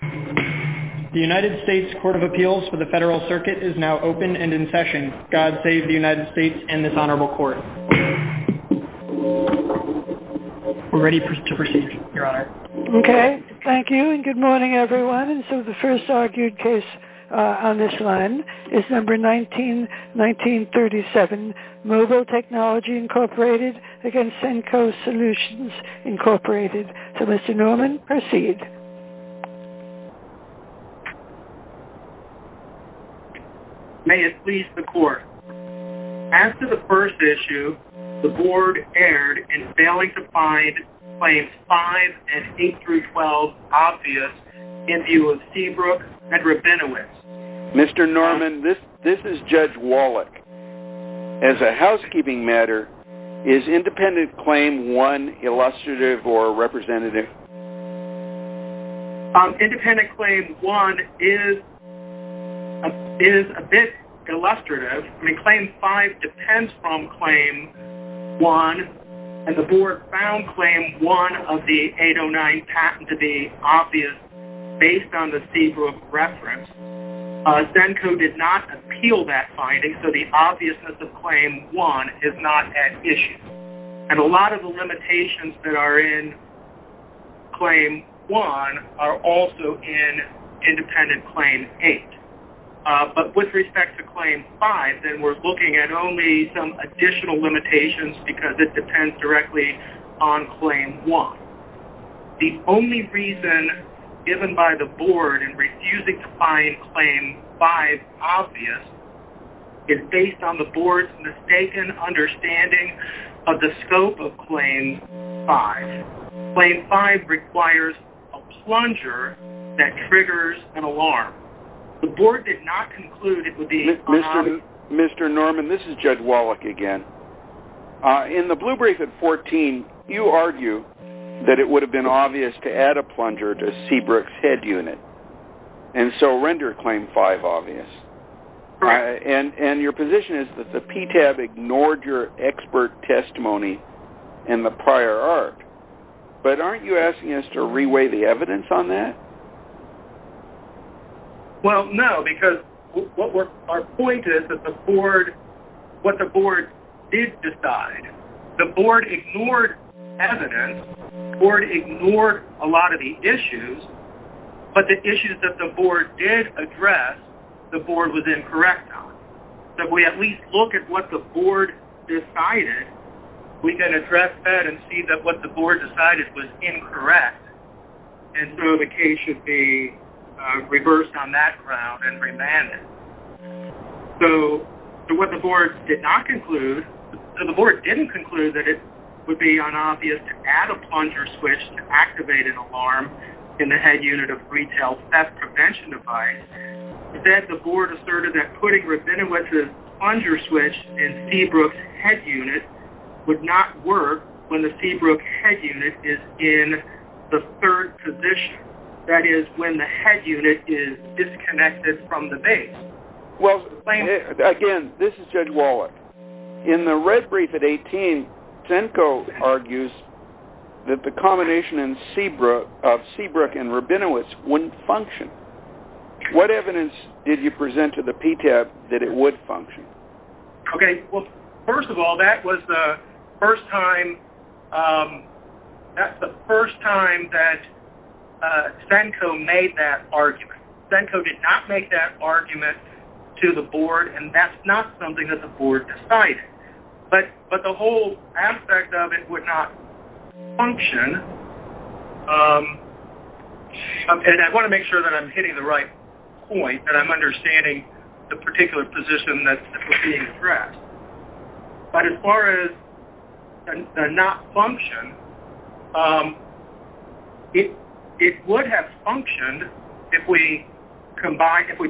The United States Court of Appeals for the Federal Circuit is now open and in session. God save the United States and this Honorable Court. We're ready to proceed, Your Honor. Okay. Thank you and good morning, everyone. And so the first argued case on this line is number 19-1937, Mobil Technology, Inc. v. Sennco Solutions, Inc. So, Mr. Norman, proceed. May it please the Court. After the first issue, the Board erred in failing to find claims 5 and 8-12 obvious in view of Seabrook and Rabinowitz. Mr. Norman, this is Judge Wallach. As a housekeeping matter, is independent claim one illustrative or representative? Independent claim one is a bit illustrative. I mean, claim five depends from claim one, and the Board found claim one of the 809 patent to be obvious based on the Seabrook reference. Sennco did not appeal that finding, so the obviousness of claim one is not at issue. And a lot of the limitations that are in claim one are also in independent claim eight. But with respect to claim five, then we're looking at only some additional limitations because it depends directly on claim one. The only reason given by the Board in refusing to find claim five obvious is based on the Board's mistaken understanding of the scope of claim five. Claim five requires a plunger that triggers an alarm. The Board did not conclude it would be obvious. Mr. Norman, this is Judge Wallach again. In the blue brief at 14, you argue that it would have been obvious to add a plunger to Seabrook's head unit, and so render claim five obvious. And your position is that the PTAB ignored your expert testimony in the prior arc. But aren't you asking us to reweigh the evidence on that? Well, no, because our point is that what the Board did decide, the Board ignored evidence, the Board ignored a lot of the issues, but the issues that the Board did address, the Board was incorrect on. So if we at least look at what the Board decided, we can address that and see that what the Board decided was incorrect, and so the case should be reversed on that ground and remanded. So what the Board did not conclude, the Board didn't conclude that it would be unobvious to add a plunger switch to activate an alarm in the head unit of retail theft prevention device. Instead, the Board asserted that putting Rabinowitz's plunger switch in Seabrook's head unit would not work when the Seabrook head unit is in the third position, that is, when the head unit is disconnected from the base. Well, again, this is Judge Wallach. In the red brief at 18, Zenko argues that the combination of Seabrook and Rabinowitz wouldn't function. What evidence did you present to the PTAB that it would function? Okay, well, first of all, that was the first time that Zenko made that argument. Zenko did not make that argument to the Board, and that's not something that the Board decided. But the whole aspect of it would not function, and I want to make sure that I'm hitting the right point, and I'm understanding the particular position that we're being addressed. But as far as the not function, it would have functioned if we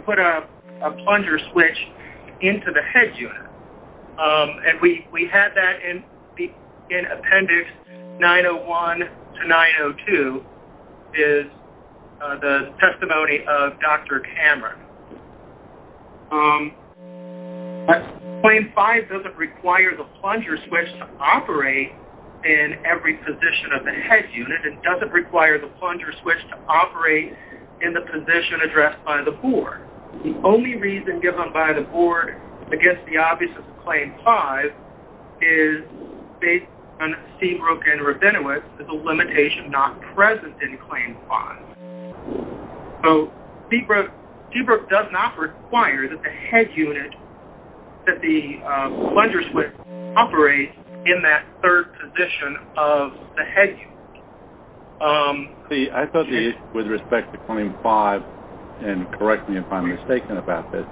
put a plunger switch into the head unit, and we had that in Appendix 901 to 902 is the testimony of Dr. Cameron. Claim 5 doesn't require the plunger switch to operate in every position of the head unit. It doesn't require the plunger switch to operate in the position addressed by the Board. The only reason given by the Board against the obvious of Claim 5 is based on Seabrook and Rabinowitz, that the limitation is not present in Claim 5. So, Seabrook does not require that the plunger switch operate in that third position of the head unit. See, I thought the issue with respect to Claim 5, and correct me if I'm mistaken about this,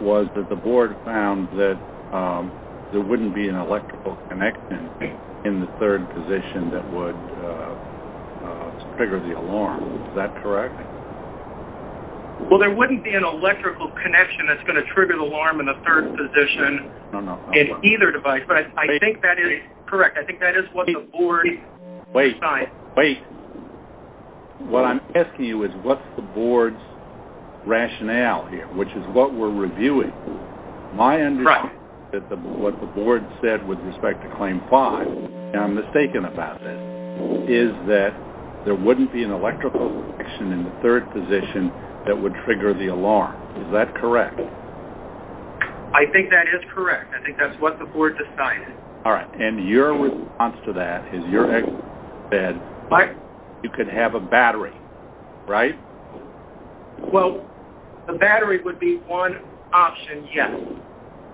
was that the Board found that there wouldn't be an electrical connection in the third position that would trigger the alarm. Is that correct? Well, there wouldn't be an electrical connection that's going to trigger the alarm in the third position in either device. Correct. I think that is what the Board decided. Wait, wait. What I'm asking you is what's the Board's rationale here, which is what we're reviewing. My understanding is that what the Board said with respect to Claim 5, and I'm mistaken about this, is that there wouldn't be an electrical connection in the third position that would trigger the alarm. Is that correct? I think that is correct. I think that's what the Board decided. All right. And your response to that is you said you could have a battery, right? Well, the battery would be one option, yes.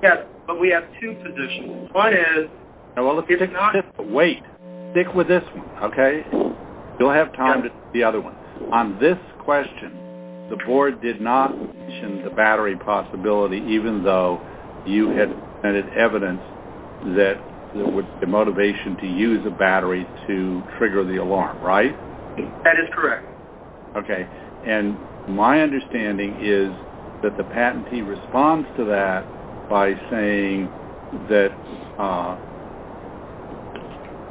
Yes, but we have two positions. One is... Now, wait. Stick with this one, okay? You'll have time to see the other ones. On this question, the Board did not mention the battery possibility, even though you had evidence that there was the motivation to use a battery to trigger the alarm, right? That is correct. Okay. And my understanding is that the patentee responds to that by saying that...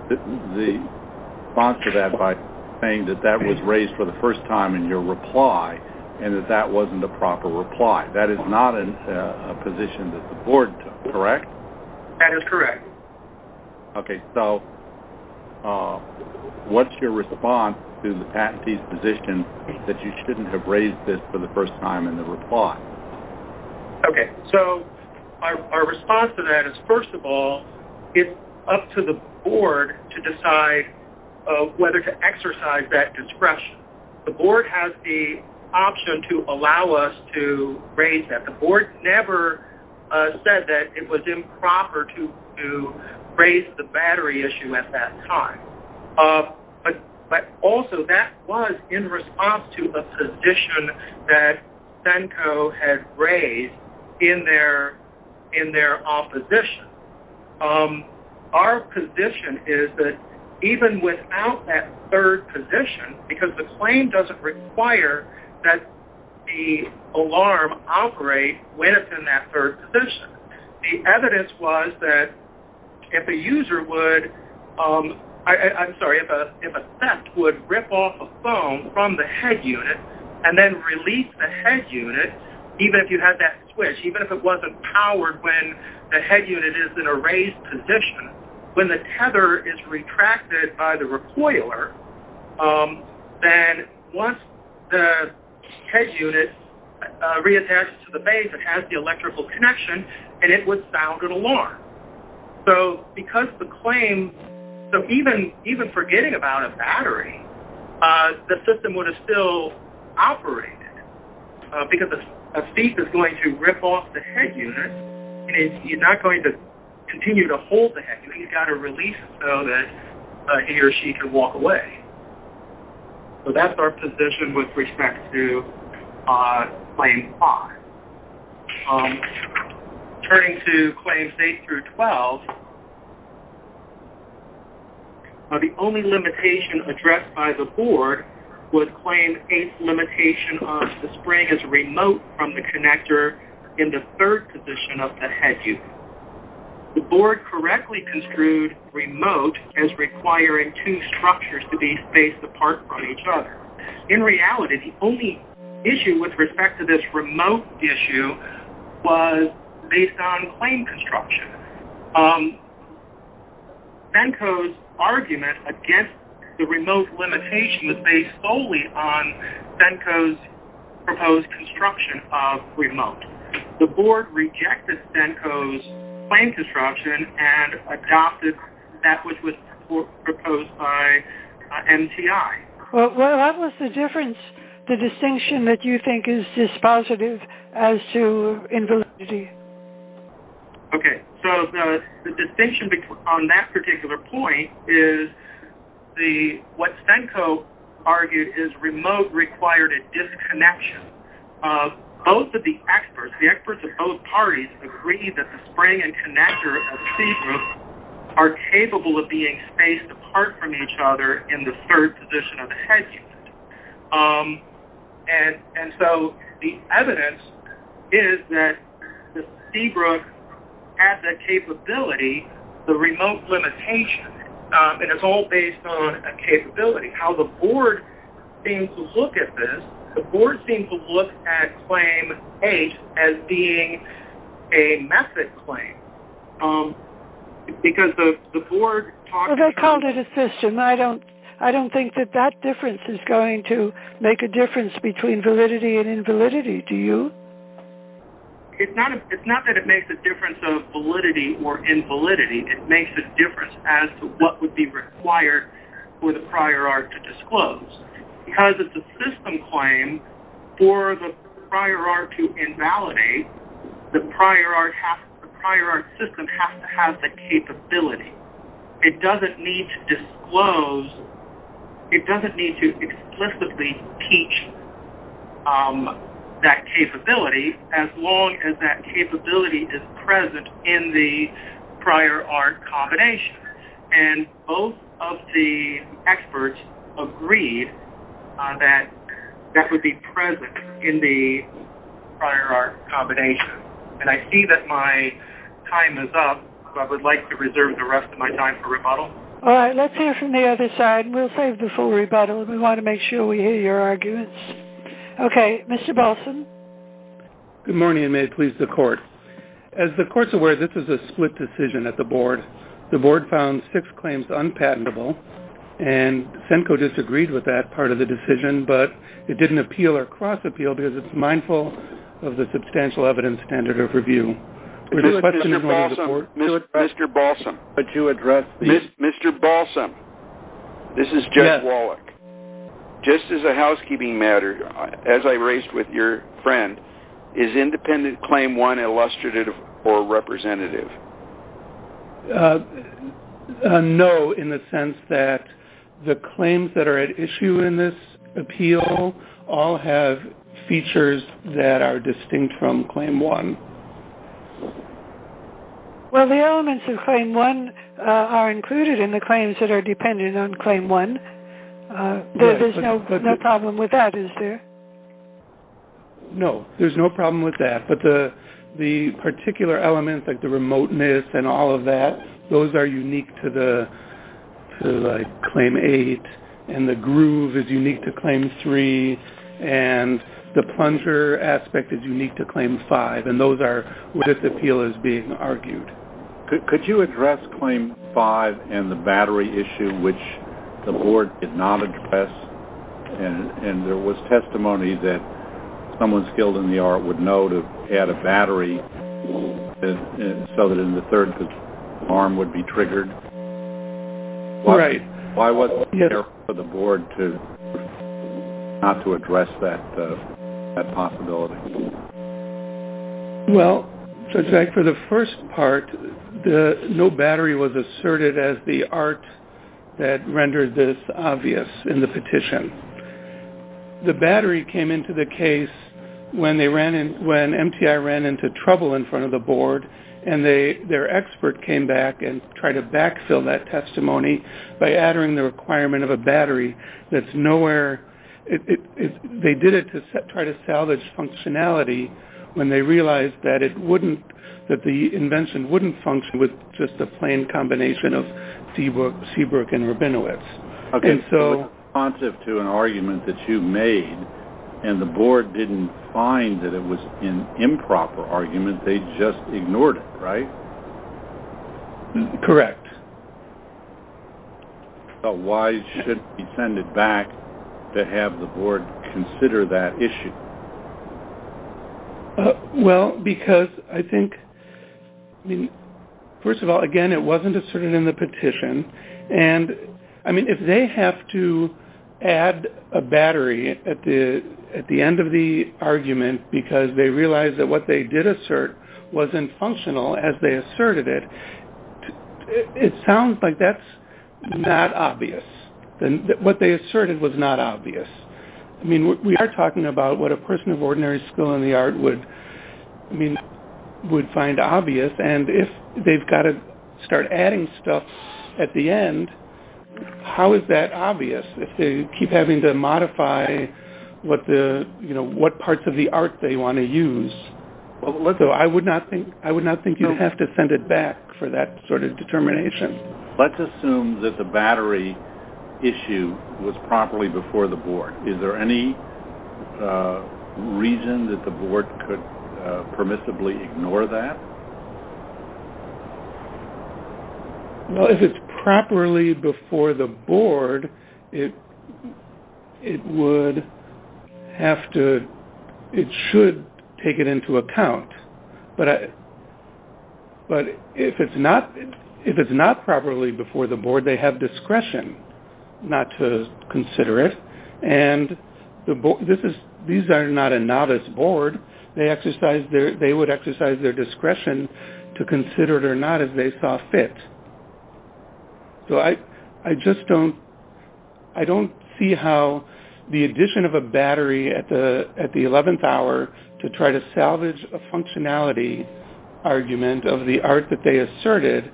the response to that by saying that that was raised for the first time in your reply and that that wasn't a proper reply. That is not a position that the Board took, correct? That is correct. Okay. So what's your response to the patentee's position that you shouldn't have raised this for the first time in the reply? Okay. So our response to that is, first of all, it's up to the Board to decide whether to exercise that discretion. The Board has the option to allow us to raise that. The Board never said that it was improper to raise the battery issue at that time. But also, that was in response to a position that CENCO had raised in their opposition. Our position is that even without that third position, because the claim doesn't require that the alarm operate within that third position, the evidence was that if a user would... I'm sorry, if a theft would rip off a phone from the head unit and then release the head unit, even if you had that switched, even if it wasn't powered when the head unit is in a raised position, when the tether is retracted by the recoiler, then once the head unit reattaches to the base, it has the electrical connection, and it would sound an alarm. So because the claim... So even forgetting about a battery, the system would have still operated because a thief is going to rip off the head unit, and he's not going to continue to hold the head unit. So he's got to release it so that he or she can walk away. So that's our position with respect to Claim 5. Turning to Claims 8 through 12, the only limitation addressed by the board was Claim 8's limitation of the spring is remote from the connector in the third position of the head unit. The board correctly construed remote as requiring two structures to be spaced apart from each other. In reality, the only issue with respect to this remote issue was based on claim construction. CENCO's argument against the remote limitation was based solely on CENCO's proposed construction of remote. The board rejected CENCO's claim construction and adopted that which was proposed by MTI. Well, what was the difference, the distinction that you think is dispositive as to invalidity? Okay, so the distinction on that particular point is what CENCO argued is remote required a disconnection of both of the experts. The experts of both parties agreed that the spring and connector of Seabrook are capable of being spaced apart from each other in the third position of the head unit. And so the evidence is that Seabrook has that capability, the remote limitation, and it's all based on a capability. How the board seems to look at this, the board seems to look at claim H as being a method claim. Because the board talks about... Well, they called it a system. I don't think that that difference is going to make a difference between validity and invalidity. Do you? It's not that it makes a difference of validity or invalidity. It makes a difference as to what would be required for the prior art to disclose. Because it's a system claim for the prior art to invalidate, the prior art system has to have the capability. It doesn't need to disclose. It doesn't need to explicitly teach that capability as long as that capability is present in the prior art combination. And both of the experts agreed that that would be present in the prior art combination. And I see that my time is up, so I would like to reserve the rest of my time for rebuttal. All right. Let's hear from the other side, and we'll save the full rebuttal. We want to make sure we hear your arguments. Okay. Mr. Balson. Good morning, and may it please the court. As the court's aware, this is a split decision at the board. The board found six claims unpatentable, and SENCO disagreed with that part of the decision, but it didn't appeal or cross-appeal because it's mindful of the substantial evidence standard of review. Mr. Balson, this is Jeff Wallach. Just as a housekeeping matter, as I raised with your friend, is independent Claim 1 illustrative or representative? No, in the sense that the claims that are at issue in this appeal all have features that are distinct from Claim 1. Well, the elements of Claim 1 are included in the claims that are dependent on Claim 1. There's no problem with that, is there? No, there's no problem with that, but the particular elements like the remoteness and all of that, those are unique to, like, Claim 8, and the groove is unique to Claim 3, and the plunger aspect is unique to Claim 5, and those are what this appeal is being argued. Could you address Claim 5 and the battery issue, which the board did not address, and there was testimony that someone skilled in the art would know to add a battery so that in the third arm would be triggered? Right. Why wasn't there for the board not to address that possibility? Well, for the first part, no battery was asserted as the art that rendered this obvious in the petition. The battery came into the case when MTI ran into trouble in front of the board, and their expert came back and tried to backfill that testimony by adding the requirement of a battery that's nowhere. They did it to try to salvage functionality when they realized that the invention wouldn't function with just a plain combination of Seabrook and Rabinowitz. Okay, so it's responsive to an argument that you made, and the board didn't find that it was an improper argument. They just ignored it, right? Correct. So why should it be sended back to have the board consider that issue? Well, because I think, first of all, again, it wasn't asserted in the petition. And, I mean, if they have to add a battery at the end of the argument because they realized that what they did assert wasn't functional as they asserted it, it sounds like that's not obvious. What they asserted was not obvious. I mean, we are talking about what a person of ordinary skill in the art would find obvious, and if they've got to start adding stuff at the end, how is that obvious? If they keep having to modify what parts of the art they want to use. So I would not think you'd have to send it back for that sort of determination. Let's assume that the battery issue was properly before the board. Is there any reason that the board could permissibly ignore that? Well, if it's properly before the board, it would have to – it should take it into account. But if it's not properly before the board, they have discretion not to consider it. And these are not a novice board. They would exercise their discretion to consider it or not as they saw fit. So I just don't see how the addition of a battery at the 11th hour to try to salvage a functionality argument of the art that they asserted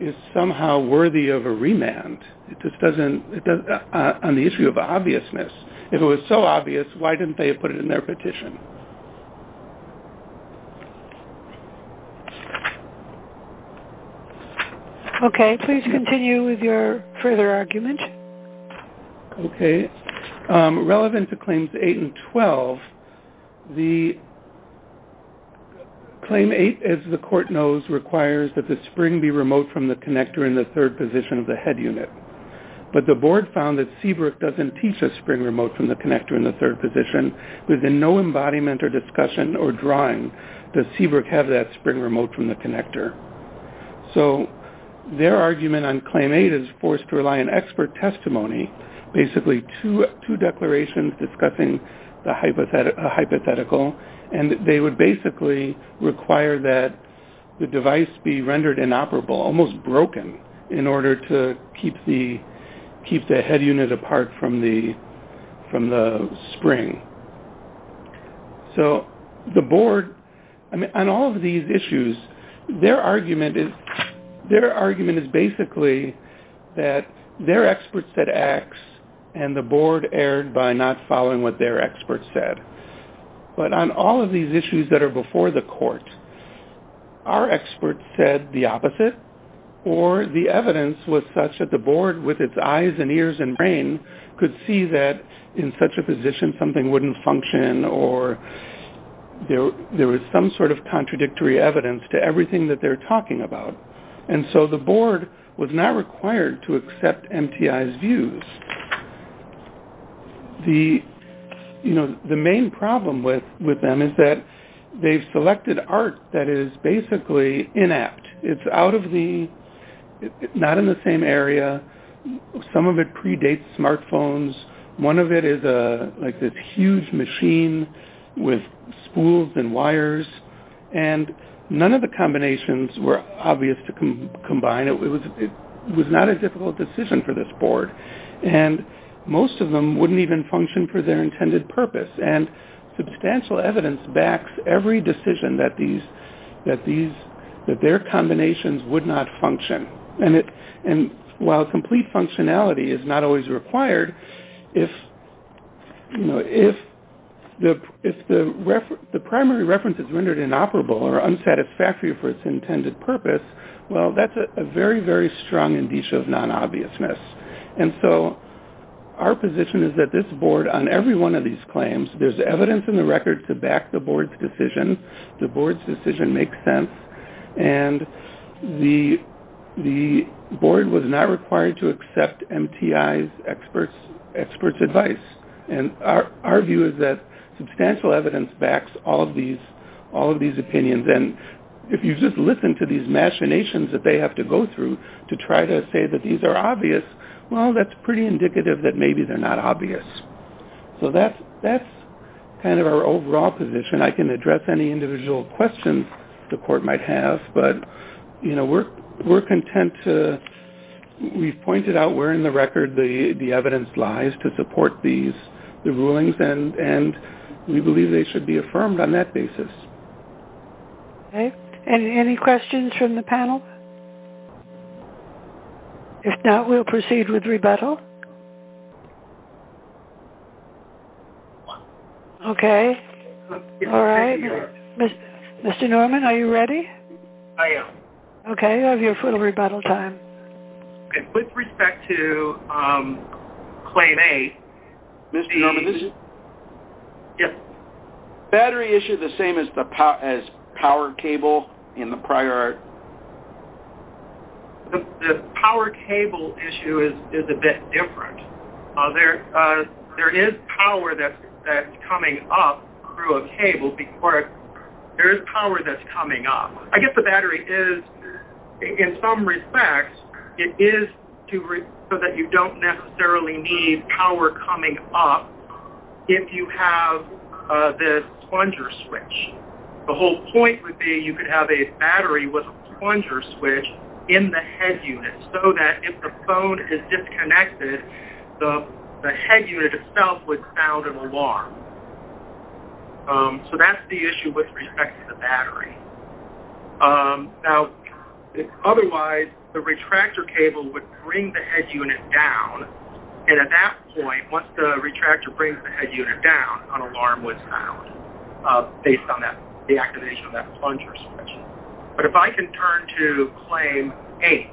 is somehow worthy of a remand on the issue of obviousness. If it was so obvious, why didn't they put it in their petition? Okay, please continue with your further argument. Okay. Relevant to Claims 8 and 12, the Claim 8, as the court knows, requires that the spring be remote from the connector in the third position of the head unit. But the board found that Seabrook doesn't teach a spring remote from the connector in the third position. Within no embodiment or discussion or drawing does Seabrook have that spring remote from the connector. So their argument on Claim 8 is forced to rely on expert testimony, basically two declarations discussing a hypothetical, and they would basically require that the device be rendered inoperable, almost broken, in order to keep the head unit apart from the spring. So the board, on all of these issues, their argument is basically that their experts said X and the board erred by not following what their experts said. But on all of these issues that are before the court, our experts said the opposite, or the evidence was such that the board, with its eyes and ears and brain, could see that in such a position something wouldn't function or there was some sort of contradictory evidence to everything that they're talking about. And so the board was not required to accept MTI's views. The main problem with them is that they've selected art that is basically inapt. It's out of the, not in the same area. Some of it predates smartphones. One of it is like this huge machine with spools and wires. And none of the combinations were obvious to combine. It was not a difficult decision for this board. And most of them wouldn't even function for their intended purpose. And substantial evidence backs every decision that their combinations would not function. And while complete functionality is not always required, if the primary reference is rendered inoperable or unsatisfactory for its intended purpose, well, that's a very, very strong indicia of non-obviousness. And so our position is that this board, on every one of these claims, there's evidence in the record to back the board's decision. The board's decision makes sense. And the board was not required to accept MTI's experts' advice. And our view is that substantial evidence backs all of these opinions. And if you just listen to these machinations that they have to go through to try to say that these are obvious, well, that's pretty indicative that maybe they're not obvious. So that's kind of our overall position. I can address any individual questions the court might have, but, you know, we're content to we've pointed out where in the record the evidence lies to support the rulings, and we believe they should be affirmed on that basis. Okay. Any questions from the panel? If not, we'll proceed with rebuttal. Okay. All right. Mr. Norman, are you ready? I am. Okay. You have your full rebuttal time. With respect to Claim A, the battery issue, is it the same as power cable in the prior? The power cable issue is a bit different. There is power that's coming up through a cable, but there is power that's coming up. I guess the battery is, in some respects, it is so that you don't necessarily need power coming up if you have the plunger switch. The whole point would be you could have a battery with a plunger switch in the head unit, so that if the phone is disconnected, the head unit itself would sound an alarm. So that's the issue with respect to the battery. Now, otherwise, the retractor cable would bring the head unit down, and at that point, once the retractor brings the head unit down, an alarm would sound based on the activation of that plunger switch. But if I can turn to Claim 8,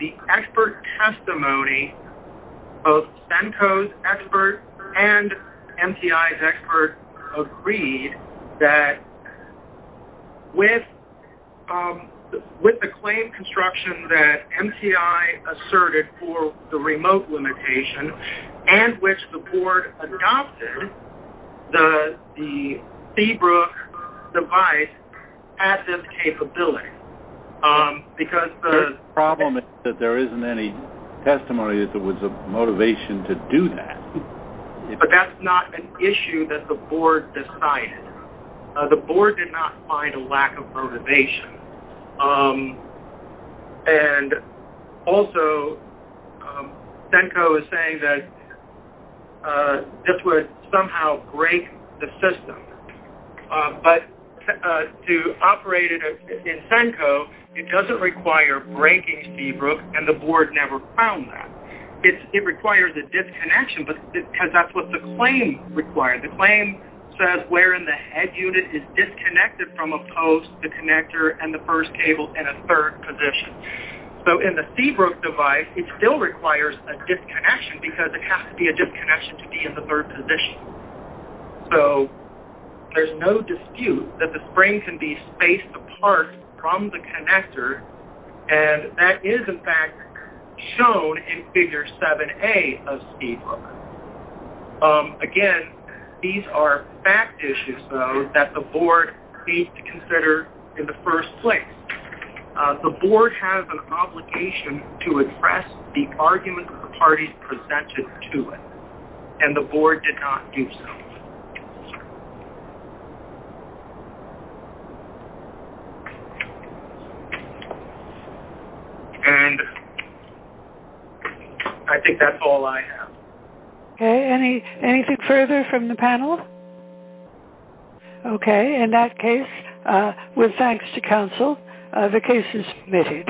the expert testimony of CENCO's expert and MTI's expert agreed that with the claim construction that MTI asserted for the remote limitation and which the board adopted, the Seabrook device had this capability. The problem is that there isn't any testimony that there was a motivation to do that. But that's not an issue that the board decided. The board did not find a lack of motivation. And also, CENCO is saying that this would somehow break the system. But to operate it in CENCO, it doesn't require breaking Seabrook, and the board never found that. It requires a disconnection, because that's what the claim required. The claim says wherein the head unit is disconnected from a post, the connector, and the first cable in a third position. So in the Seabrook device, it still requires a disconnection, because it has to be a disconnection to be in the third position. So there's no dispute that the spring can be spaced apart from the connector, and that is, in fact, shown in Figure 7A of Seabrook. Again, these are fact issues, though, that the board needs to consider in the first place. The board has an obligation to address the arguments the parties presented to it, and the board did not do so. And I think that's all I have. Okay, anything further from the panel? Okay, in that case, with thanks to counsel, the case is submitted.